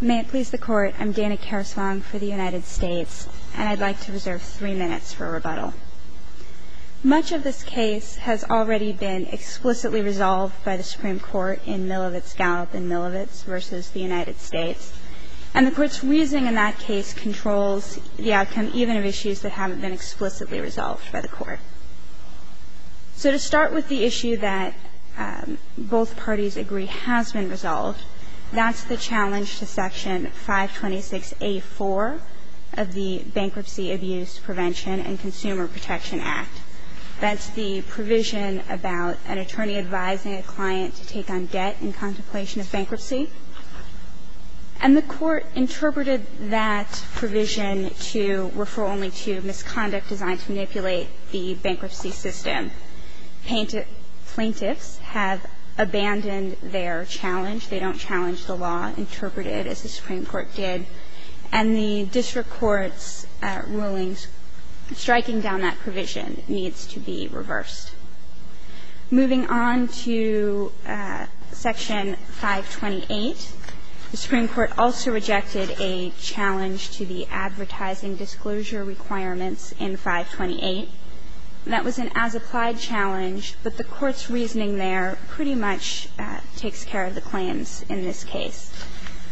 May it please the Court, I'm Dana Karasvong for the United States, and I'd like to reserve three minutes for a rebuttal. Much of this case has already been explicitly resolved by the Supreme Court in Milovic-Gallup and Milovic v. the United States, and the Court's reasoning in that case controls the outcome even of issues that haven't been explicitly resolved by the Court. So to start with the issue that both parties agree has been resolved, that's the challenge to Section 526A4 of the Bankruptcy Abuse Prevention and Consumer Protection Act. That's the provision about an attorney advising a client to take on debt in contemplation of bankruptcy. And the Court interpreted that provision to refer only to misconduct designed to manipulate the bankruptcy system. Plaintiffs have abandoned their challenge. They don't challenge the law, interpreted as the Supreme Court did. And the district court's rulings striking down that provision needs to be reversed. Moving on to Section 528, the Supreme Court also rejected a challenge to the advertising disclosure requirements in 528. That was an as-applied challenge, but the Court's reasoning there pretty much takes care of the claims in this case.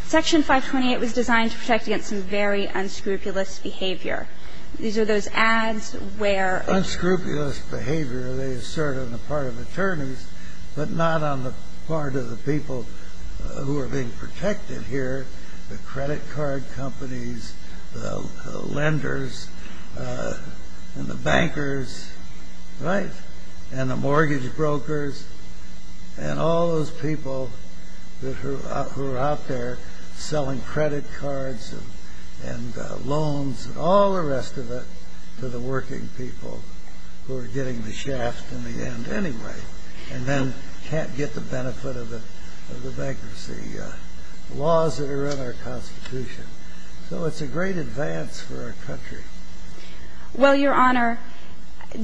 Section 528 was designed to protect against some very unscrupulous behavior. These are those ads where the attorneys are not on the part of the people who are being the vendors, and the bankers, and the mortgage brokers, and all those people who are out there selling credit cards and loans and all the rest of it to the working people who are getting the shaft in the end anyway, and then can't get the benefit of the bankruptcy laws that are in our Constitution. So it's a great advance for our country. Well, Your Honor,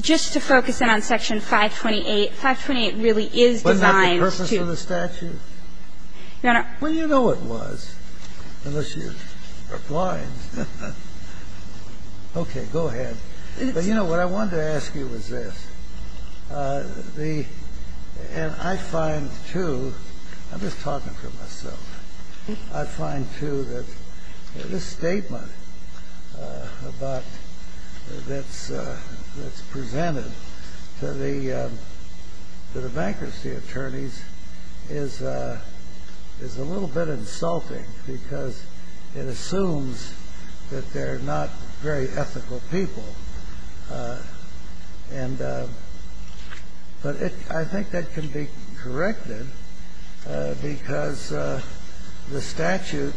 just to focus in on Section 528, 528 really is designed to ---- But not the purpose of the statute? Your Honor ---- Well, you know it was, unless you are blind. Okay. Go ahead. But, you know, what I wanted to ask you was this. The ---- and I find, too ---- I'm just talking for myself. I find, too, that this statement about ---- that's presented to the bankruptcy attorneys is a little bit insulting because it assumes that they're not very ethical people. But I think that can be corrected because the statute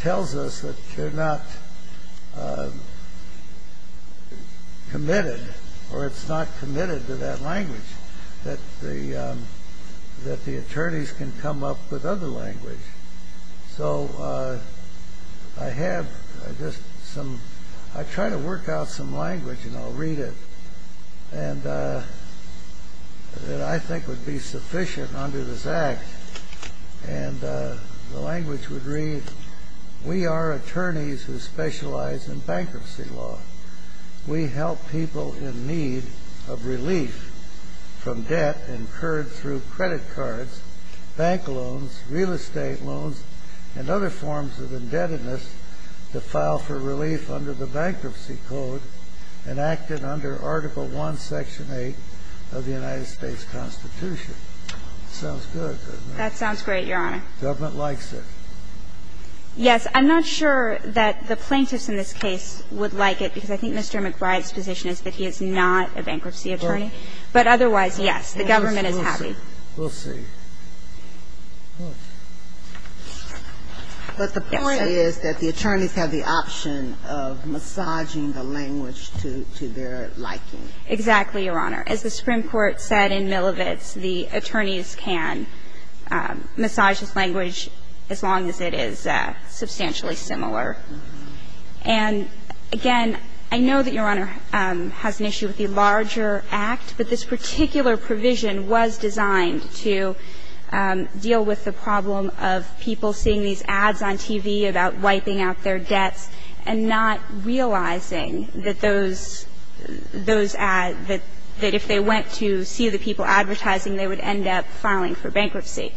tells us that they're not committed or it's not committed to that language, that the attorneys can come up with other language. So I have just some ---- I tried to work out some language, and I'll read it, that I think would be sufficient under this Act. And the language would read, We are attorneys who specialize in bankruptcy law. We help people in need of relief from debt incurred through credit cards, bank loans, real estate loans, and other forms of indebtedness to file for relief under the Bankruptcy Code enacted under Article I, Section 8 of the United States Constitution. Sounds good, doesn't it? That sounds great, Your Honor. Government likes it. Yes. I'm not sure that the plaintiffs in this case would like it because I think Mr. McBride's position is that he is not a bankruptcy attorney. But otherwise, yes, the government is happy. We'll see. But the point is that the attorneys have the option of massaging the language to their liking. Exactly, Your Honor. As the Supreme Court said in Milovic's, the attorneys can massage this language as long as it is substantially similar. And again, I know that Your Honor has an issue with the larger Act, but this particular provision was designed to deal with the problem of people seeing these ads on TV about wiping out their debts and not realizing that those ads, that if they went to see the people advertising, they would end up filing for bankruptcy.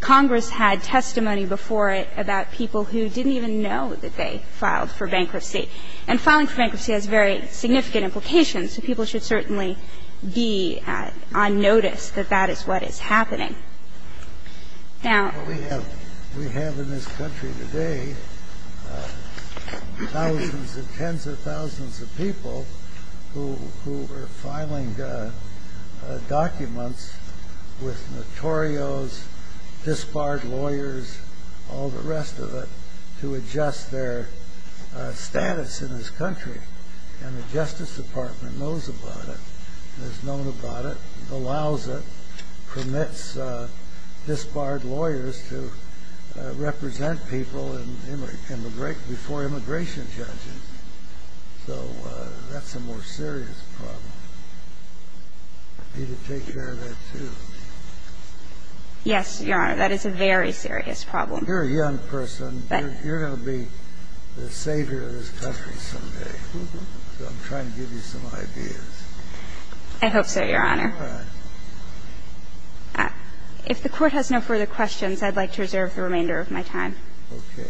Congress had testimony before it about people who didn't even know that they filed for bankruptcy. And filing for bankruptcy has very significant implications. So people should certainly be on notice that that is what is happening. Now we have in this country today thousands and tens of thousands of people who are filing documents with notorios, disbarred lawyers, all the rest of it, to adjust their status in this country. And the Justice Department knows about it, has known about it, allows it, permits disbarred lawyers to represent people before immigration judges. So that's a more serious problem. We need to take care of that, too. Yes, Your Honor. That is a very serious problem. You're a young person. You're going to be the savior of this country someday. So I'm trying to give you some ideas. I hope so, Your Honor. All right. If the Court has no further questions, I'd like to reserve the remainder of my time. Okay.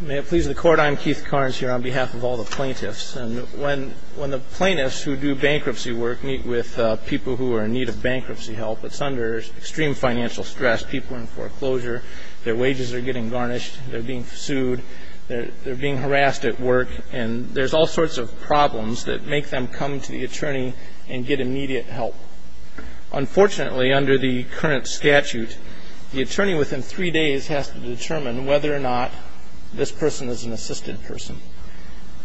May it please the Court, I'm Keith Carnes here on behalf of all the plaintiffs. And when the plaintiffs who do bankruptcy work meet with people who are in need of bankruptcy help, it's under extreme financial stress. People are in foreclosure. Their wages are getting garnished. They're being sued. They're being harassed at work. And there's all sorts of problems that make them come to the attorney and get immediate help. Unfortunately, under the current statute, the attorney within three days has to determine whether or not this person is an assisted person.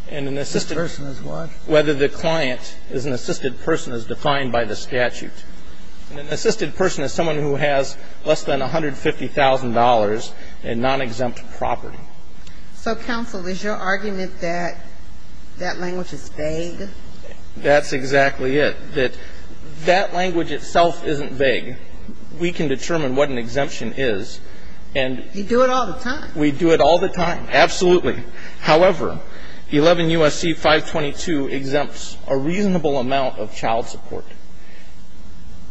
And an assisted person is what? Whether the client is an assisted person as defined by the statute. An assisted person is someone who has less than $150,000 in nonexempt property. So, counsel, is your argument that that language is vague? That's exactly it. That that language itself isn't vague. We can determine what an exemption is. And you do it all the time. We do it all the time. Absolutely. However, 11 U.S.C. 522 exempts a reasonable amount of child support.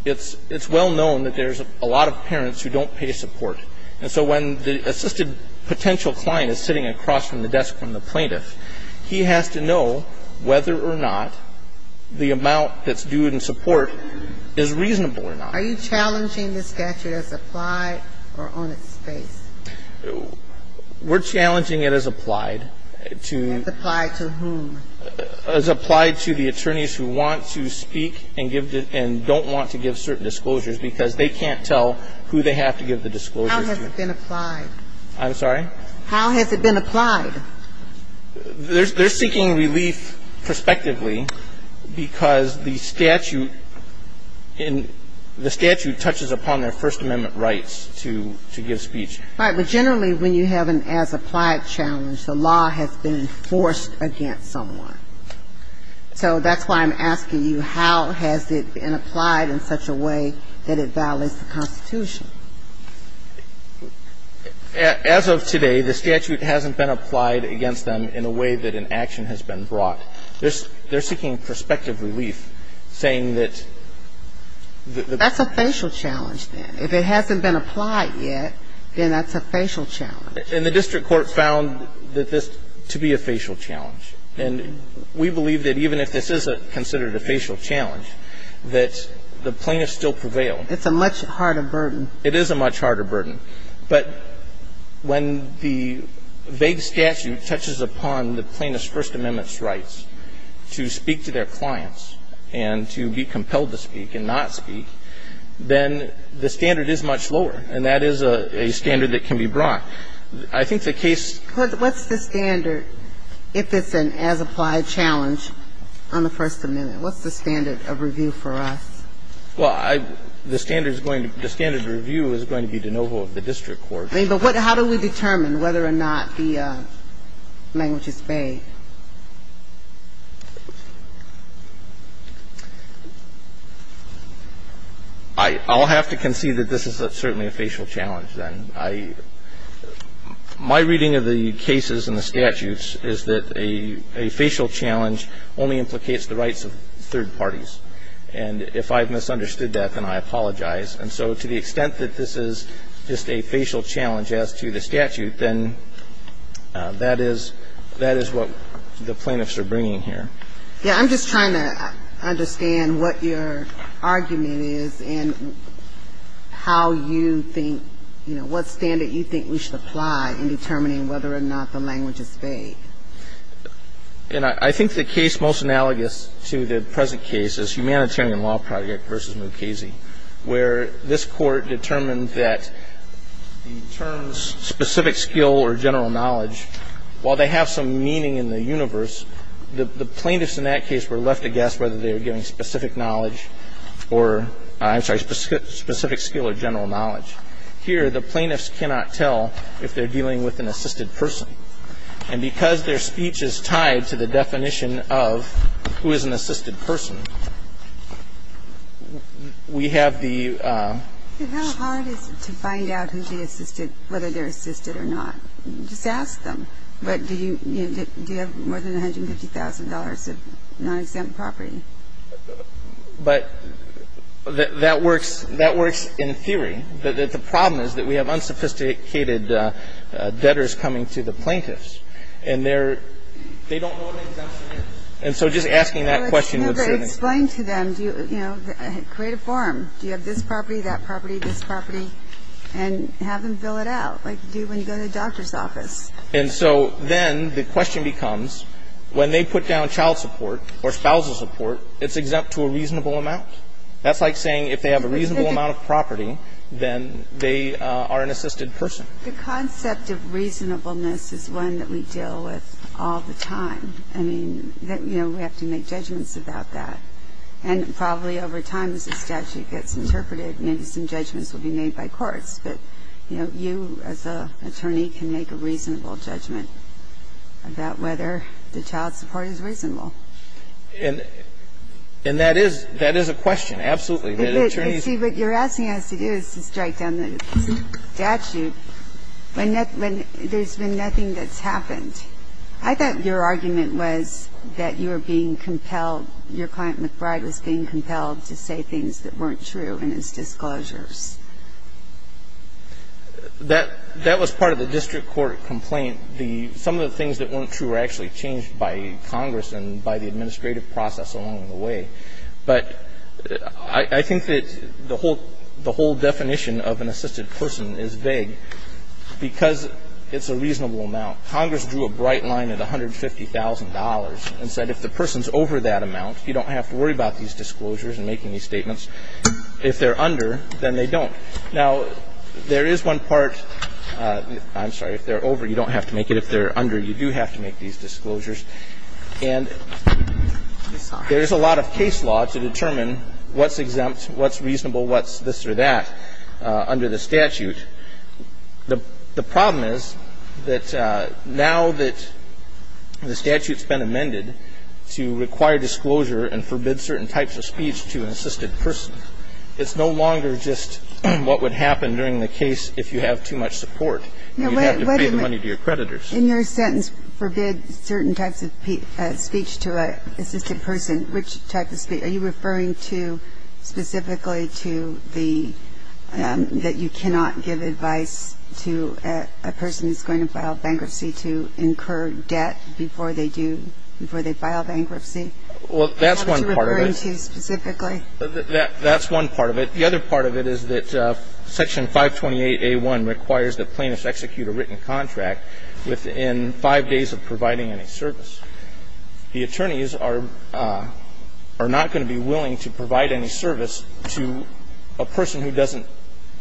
It's well known that there's a lot of parents who don't pay support. And so when the assisted potential client is sitting across from the desk from the plaintiff, he has to know whether or not the amount that's due in support is reasonable or not. Are you challenging the statute as applied or on its face? We're challenging it as applied to the attorneys who want to speak and don't want to give certain disclosures because they can't tell who they have to give the disclosures to. How has it been applied? I'm sorry? How has it been applied? They're seeking relief prospectively because the statute touches upon their First Amendment rights to give speech. Right. But generally when you have an as applied challenge, the law has been forced against someone. So that's why I'm asking you, how has it been applied in such a way that it violates the Constitution? As of today, the statute hasn't been applied against them in a way that an action has been brought. They're seeking prospective relief, saying that the ---- That's a facial challenge, then. If it hasn't been applied yet, then that's a facial challenge. And the district court found that this to be a facial challenge. And we believe that even if this is considered a facial challenge, that the plaintiff still prevailed. It's a much harder burden. It is a much harder burden. But when the vague statute touches upon the plaintiff's First Amendment rights to speak to their clients and to be compelled to speak and not speak, then the standard is much lower. And that is a standard that can be brought. I think the case ---- What's the standard if it's an as applied challenge on the First Amendment? What's the standard of review for us? Well, I ---- the standard is going to be ---- the standard of review is going to be de novo with the district court. I mean, but what ---- how do we determine whether or not the language is vague? I'll have to concede that this is certainly a facial challenge, then. I ---- my reading of the cases and the statutes is that a facial challenge only implicates the rights of third parties. And if I've misunderstood that, then I apologize. And so to the extent that this is just a facial challenge as to the statute, then that is ---- that is what we have to consider. The plaintiffs are bringing here. Yeah. I'm just trying to understand what your argument is and how you think, you know, what standard you think we should apply in determining whether or not the language is vague. And I think the case most analogous to the present case is Humanitarian Law Project v. Mukasey, where this Court determined that the terms specific skill or general knowledge, while they have some meaning in the universe, the plaintiffs in that case were left to guess whether they were giving specific knowledge or ---- I'm sorry, specific skill or general knowledge. Here, the plaintiffs cannot tell if they're dealing with an assisted person. And because their speech is tied to the definition of who is an assisted person, we have the ---- And how hard is it to find out who's the assisted, whether they're assisted or not? Just ask them. But do you have more than $150,000 of non-exempt property? But that works ---- that works in theory. But the problem is that we have unsophisticated debtors coming to the plaintiffs, and they're ---- they don't know what an exemption is. And so just asking that question would certainly ---- No, but explain to them. Do you, you know, create a form. Do you have this property, that property, this property? And have them fill it out, like you do when you go to the doctor's office. And so then the question becomes, when they put down child support or spousal support, it's exempt to a reasonable amount. That's like saying if they have a reasonable amount of property, then they are an assisted person. The concept of reasonableness is one that we deal with all the time. I mean, you know, we have to make judgments about that. And probably over time, as the statute gets interpreted, maybe some judgments will be made by courts. But, you know, you as an attorney can make a reasonable judgment about whether the child support is reasonable. And that is ---- that is a question, absolutely. But attorneys ---- But see, what you're asking us to do is to strike down the statute when there's been nothing that's happened. I thought your argument was that you were being compelled, your client McBride was being compelled to say things that weren't true in his disclosures. That was part of the district court complaint. The ---- some of the things that weren't true were actually changed by Congress and by the administrative process along the way. But I think that the whole definition of an assisted person is vague because it's a reasonable amount. Congress drew a bright line at $150,000 and said if the person's over that amount, you don't have to worry about these disclosures and making these statements. If they're under, then they don't. Now, there is one part ---- I'm sorry, if they're over, you don't have to make it. If they're under, you do have to make these disclosures. And there's a lot of case law to determine what's exempt, what's reasonable, what's this or that under the statute. The problem is that now that the statute's been amended to require disclosure and forbid certain types of speech to an assisted person, it's no longer just what would happen during the case if you have too much support. You'd have to pay the money to your creditors. In your sentence, forbid certain types of speech to an assisted person, which type of speech? Are you referring to specifically to the ---- that you cannot give advice to a person who's going to file bankruptcy to incur debt before they do ---- before they file bankruptcy? Well, that's one part of it. What were you referring to specifically? That's one part of it. The other part of it is that Section 528A1 requires that plaintiffs execute a written contract within five days of providing any service. The attorneys are not going to be willing to provide any service to a person who doesn't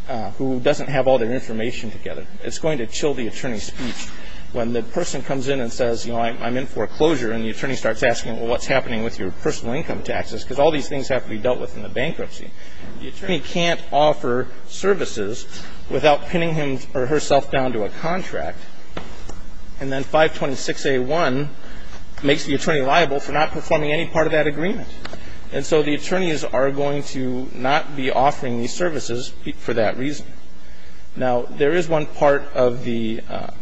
---- who doesn't have all their information together. It's going to chill the attorney's speech. When the person comes in and says, you know, I'm in for a closure, and the attorney starts asking, well, what's happening with your personal income taxes, because all these things have to be dealt with in the bankruptcy, the attorney can't offer services without pinning him or herself down to a contract. And then 526A1 makes the attorney liable for not performing any part of that agreement. And so the attorneys are going to not be offering these services for that reason. Now, there is one part of the ----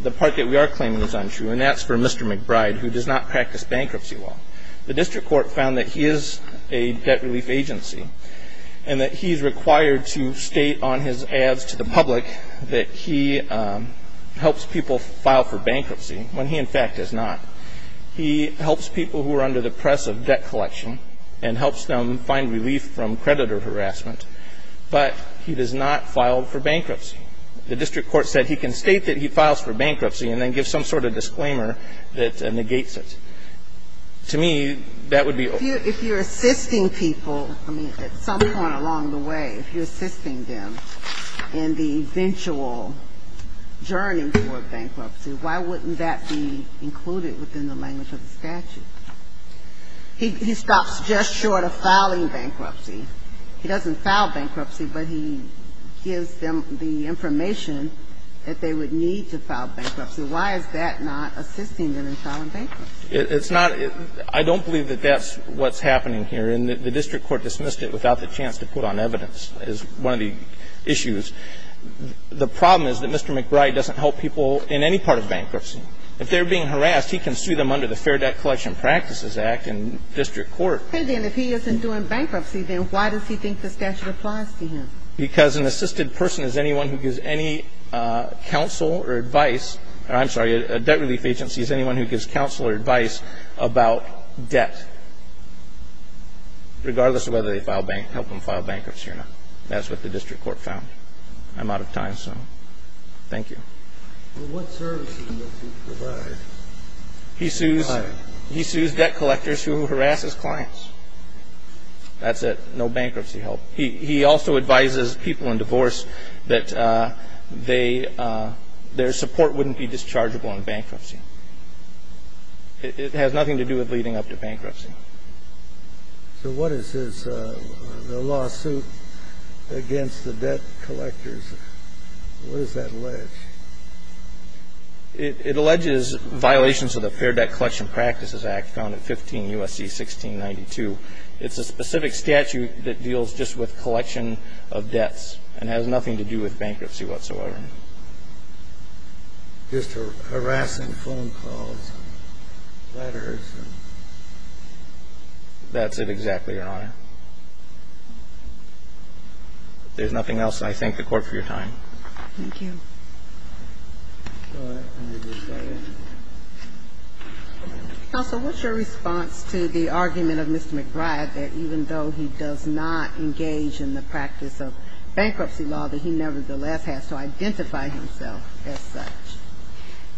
the part that we are claiming is untrue, and that's for Mr. McBride, who does not practice bankruptcy law. The district court found that he is a debt relief agency and that he is required to state on his ads to the public that he helps people file for bankruptcy, when he, in fact, does not. He helps people who are under the press of debt collection and helps them find relief from creditor harassment, but he does not file for bankruptcy. The district court said he can state that he files for bankruptcy and then give some sort of disclaimer that negates it. To me, that would be ---- If you're assisting people, I mean, at some point along the way, if you're assisting them in the eventual journey toward bankruptcy, why wouldn't that be included within the language of the statute? He stops just short of filing bankruptcy. He doesn't file bankruptcy, but he gives them the information that they would need to file bankruptcy. Why is that not assisting them in filing bankruptcy? It's not ---- I don't believe that that's what's happening here. And the district court dismissed it without the chance to put on evidence is one of the issues. The problem is that Mr. McBride doesn't help people in any part of bankruptcy. If they're being harassed, he can sue them under the Fair Debt Collection Practices Act in district court. And then if he isn't doing bankruptcy, then why does he think the statute applies to him? Because an assisted person is anyone who gives any counsel or advice ---- I'm sorry, a debt relief agency is anyone who gives counsel or advice about debt, regardless of whether they help them file bankruptcy or not. That's what the district court found. I'm out of time, so thank you. Well, what services does he provide? He sues debt collectors who harass his clients. That's it. No bankruptcy help. He also advises people in divorce that their support wouldn't be dischargeable in bankruptcy. It has nothing to do with leading up to bankruptcy. So what is the lawsuit against the debt collectors? What does that allege? It alleges violations of the Fair Debt Collection Practices Act, found in 15 U.S.C. 1692. It's a specific statute that deals just with collection of debts and has nothing to do with bankruptcy whatsoever. Just harassing phone calls and letters and ---- That's it, exactly, Your Honor. If there's nothing else, I thank the Court for your time. Thank you. And I think there's a reason to be surprised that even though he does not engage in the practice of bankruptcy law, that he nevertheless has to identify himself as such.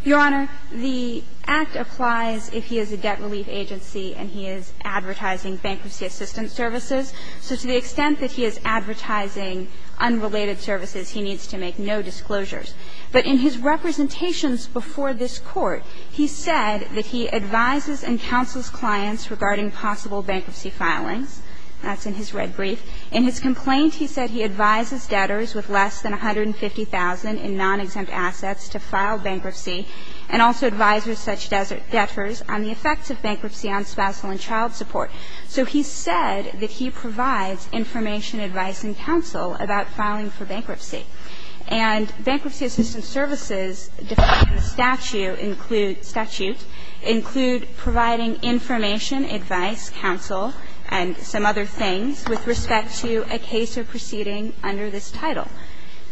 Your Honor, the Act applies if he is a debt relief agency and he is advertising bankruptcy assistance services. So to the extent that he is advertising unrelated services, he needs to make no disclosures. But in his representations before this Court, he said that he advises and counsels clients regarding possible bankruptcy filings. That's in his red brief. In his complaint, he said he advises debtors with less than $150,000 in non-exempt assets to file bankruptcy and also advises such debtors on the effects of bankruptcy on spousal and child support. So he said that he provides information, advice, and counsel about filing for bankruptcy. And bankruptcy assistance services defined in the statute include providing information, advice, counsel, and some other things with respect to a case or proceeding under this title.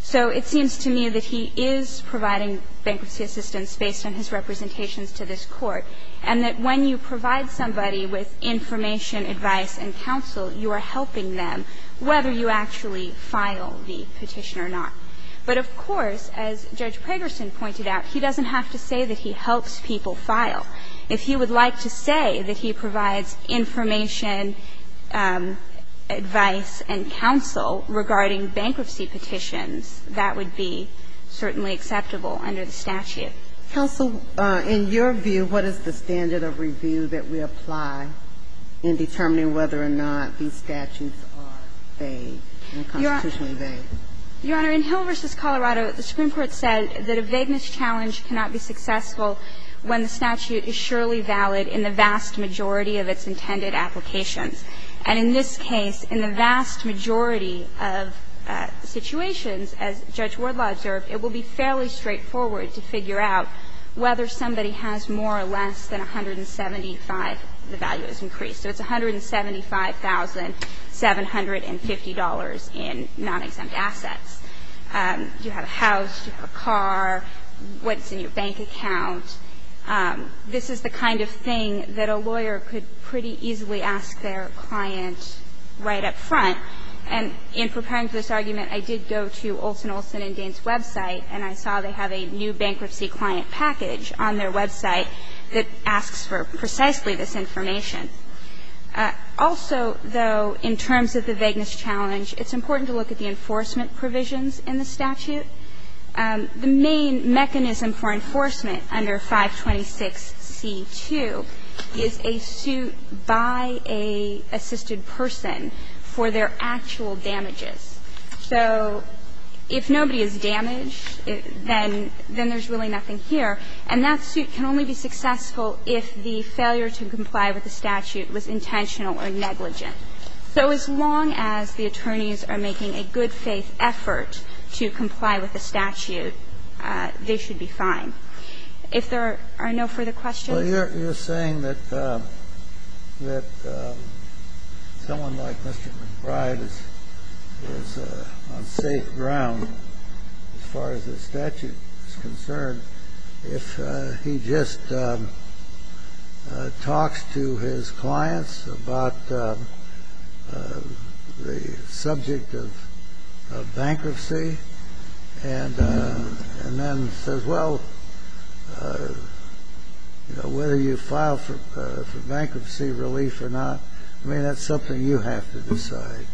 So it seems to me that he is providing bankruptcy assistance based on his representations to this Court, and that when you provide somebody with information, advice, and counsel, you are helping them, whether you actually file the petition or not. But, of course, as Judge Pegerson pointed out, he doesn't have to say that he helps people file. If he would like to say that he provides information, advice, and counsel regarding bankruptcy petitions, that would be certainly acceptable under the statute. Kagan. Counsel, in your view, what is the standard of review that we apply in determining whether or not these statutes are vague and constitutionally vague? Your Honor, in Hill v. Colorado, the Supreme Court said that a vagueness challenge cannot be successful when the statute is surely valid in the vast majority of its intended applications. And in this case, in the vast majority of situations, as Judge Wardlaw observed, it will be fairly straightforward to figure out whether somebody has more or less than 175, the value is increased. So it's $175,750 in non-exempt assets. You have a house, you have a car, what's in your bank account. This is the kind of thing that a lawyer could pretty easily ask their client right up front. And in preparing for this argument, I did go to Olson, Olson & Daines' website, and I saw they have a new bankruptcy client package on their website that asks for precisely this information. Also, though, in terms of the vagueness challenge, it's important to look at the enforcement provisions in the statute. The main mechanism for enforcement under 526c2 is a suit by an assisted person for their actual damages. So if nobody is damaged, then there's really nothing here. And that suit can only be successful if the failure to comply with the statute was intentional or negligent. So as long as the attorneys are making a good-faith effort to comply with the statute, they should be fine. If there are no further questions. Well, you're saying that someone like Mr. McBride is on safe ground, as far as the statute is concerned, if he just talks to his clients about the subject of bankruptcy and then says, well, you know, whether you file for bankruptcy relief or not, I mean, that's something you have to decide.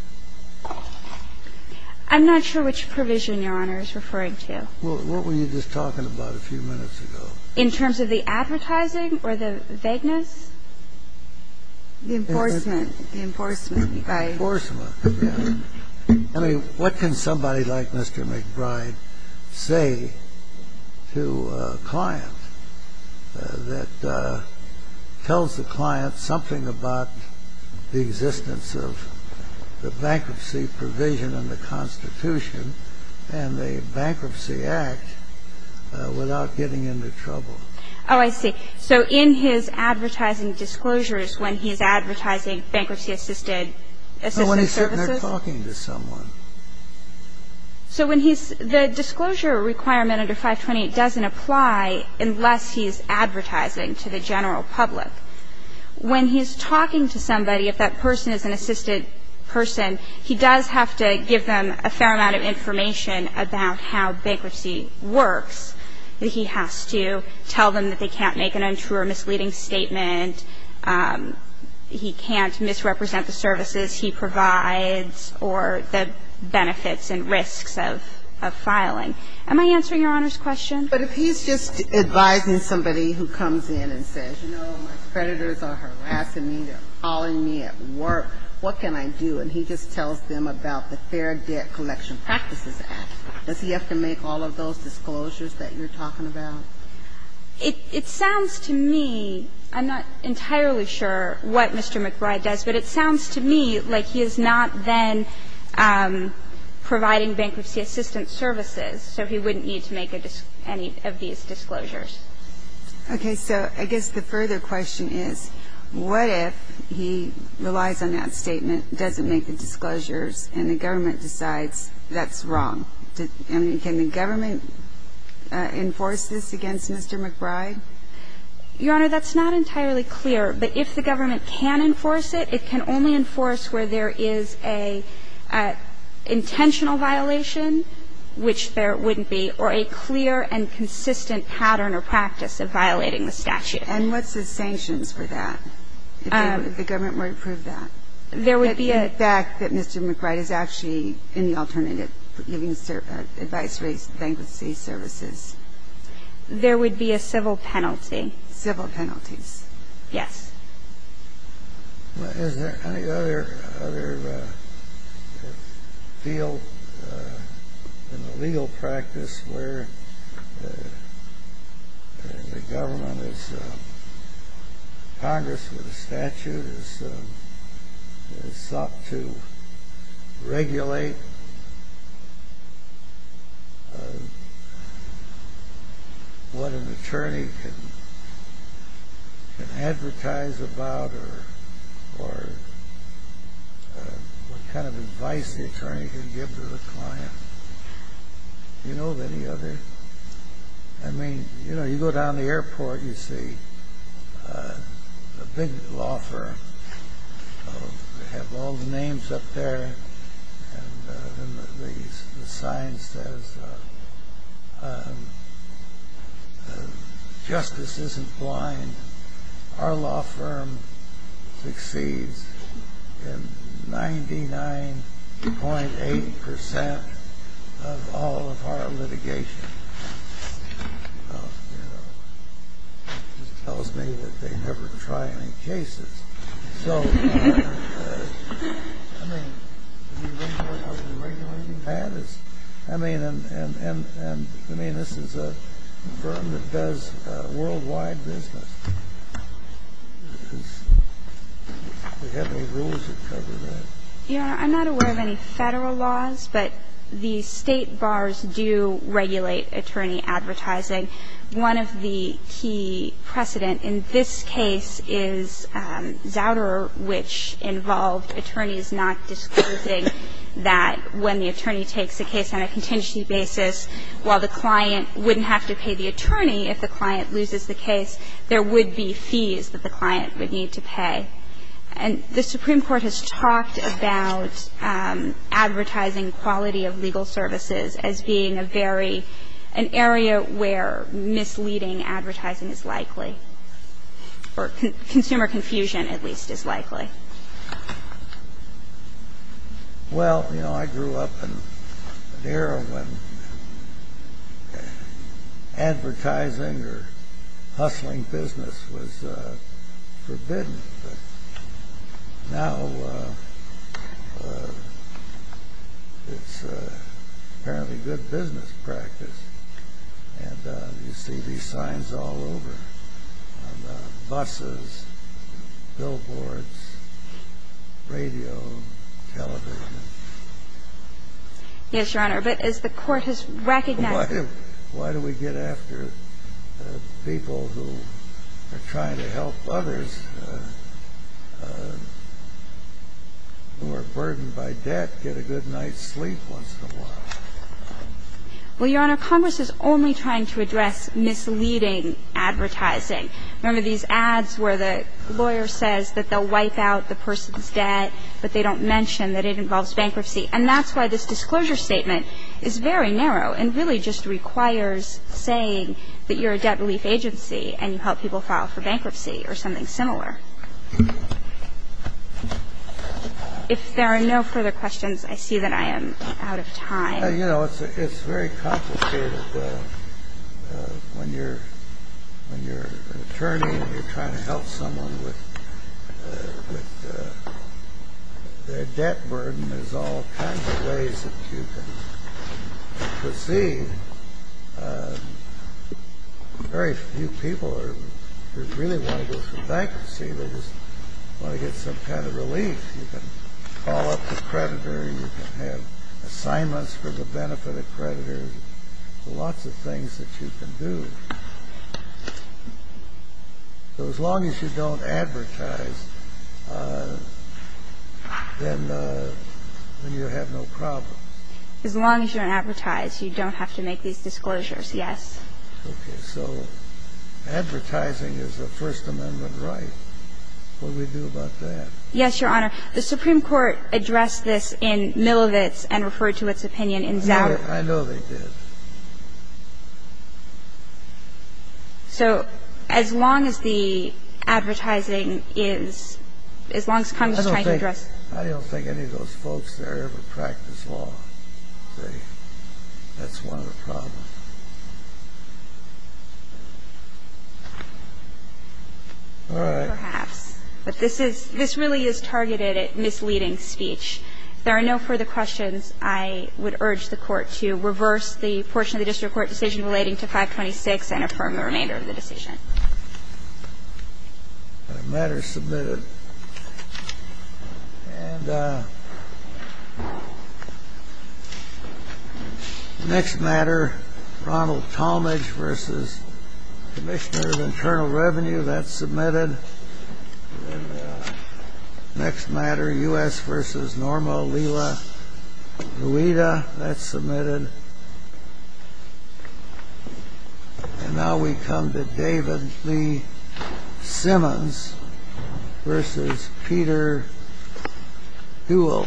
I'm not sure which provision Your Honor is referring to. Well, what were you just talking about a few minutes ago? In terms of the advertising or the vagueness? The enforcement. The enforcement by the court. I mean, what can somebody like Mr. McBride say to a client that tells the client something about the existence of the bankruptcy provision in the Constitution and the Bankruptcy Act without getting into trouble? Oh, I see. So in his advertising disclosures, when he's advertising bankruptcy-assisted services? No, when he's sitting there talking to someone. So when he's the disclosure requirement under 520, it doesn't apply unless he's advertising to the general public. When he's talking to somebody, if that person is an assisted person, he does have to give them a fair amount of information about how bankruptcy works. He has to tell them that they can't make an untrue or misleading statement. He can't misrepresent the services he provides or the benefits and risks of filing. Am I answering Your Honor's question? But if he's just advising somebody who comes in and says, you know, my creditors are harassing me, they're calling me at work, what can I do? And he just tells them about the Fair Debt Collection Practices Act. Does he have to make all of those disclosures that you're talking about? It sounds to me, I'm not entirely sure what Mr. McBride does, but it sounds to me like he is not then providing bankruptcy-assisted services, so he wouldn't need to make any of these disclosures. Okay. So I guess the further question is, what if he relies on that statement, doesn't make the disclosures, and the government decides that's wrong? Can the government enforce this against Mr. McBride? Your Honor, that's not entirely clear, but if the government can enforce it, it can only enforce where there is an intentional violation, which there wouldn't be, or a clear and consistent pattern or practice of violating the statute. And what's the sanctions for that, if the government were to prove that? There would be a ---- There would be a civil penalty. Civil penalties. Yes. Well, is there any other field in the legal practice where the government Congress with a statute has sought to regulate what an attorney can advertise about or what kind of advice the attorney can give to the client? Do you know of any other? I mean, you know, you go down to the airport, you see a big law firm. They have all the names up there. And the sign says, justice isn't blind. Our law firm succeeds in 99.8% of all of our litigation. It tells me that they never try any cases. So, I mean, this is a firm that does worldwide business. Do you have any rules that cover that? Yeah. I'm not aware of any Federal laws, but the State bars do regulate attorney advertising. One of the key precedent in this case is Zauderer, which involved attorneys not disclosing that when the attorney takes a case on a contingency basis, while the client wouldn't have to pay the attorney if the client loses the case, there would be fees that the client would need to pay. And the Supreme Court has talked about advertising quality of legal services as being a very, an area where misleading advertising is likely, or consumer confusion, at least, is likely. Well, you know, I grew up in an era when advertising or hustling business was forbidden. Now, it's apparently good business practice. And you see these signs all over, on buses, billboards, radio, television. Yes, Your Honor, but as the Court has recognized... Why do we get after people who are trying to help others who are burdened by debt get a good night's sleep once in a while? Well, Your Honor, Congress is only trying to address misleading advertising. Remember these ads where the lawyer says that they'll wipe out the person's debt, but they don't mention that it involves bankruptcy? And that's why this disclosure statement is very narrow and really just requires saying that you're a debt relief agency and you help people file for bankruptcy or something similar. If there are no further questions, I see that I am out of time. Well, you know, it's very complicated when you're an attorney and you're trying to help someone with their debt burden. There's all kinds of ways that you can proceed. Very few people really want to go through bankruptcy. They just want to get some kind of relief. You can call up the creditor. You can have assignments for the benefit of the creditor. There's lots of things that you can do. So as long as you don't advertise, then you have no problem. As long as you don't advertise, you don't have to make these disclosures, yes. Okay. So advertising is a First Amendment right. What do we do about that? Yes, Your Honor. The Supreme Court addressed this in Milovic's and referred to its opinion in Zauer. I know they did. So as long as the advertising is as long as Congress is trying to address it. I don't think any of those folks there ever practiced law. That's one of the problems. All right. Perhaps. But this really is targeted at misleading speech. If there are no further questions, I would urge the Court to reverse the portion of the district court decision relating to 526 and affirm the remainder of the decision. The matter is submitted. And the next matter, Ronald Tallmadge v. Commissioner of Internal Revenue. That's submitted. And the next matter, U.S. v. Norma Lila Luida. That's submitted. And now we come to David Lee Simmons v. Peter Huell.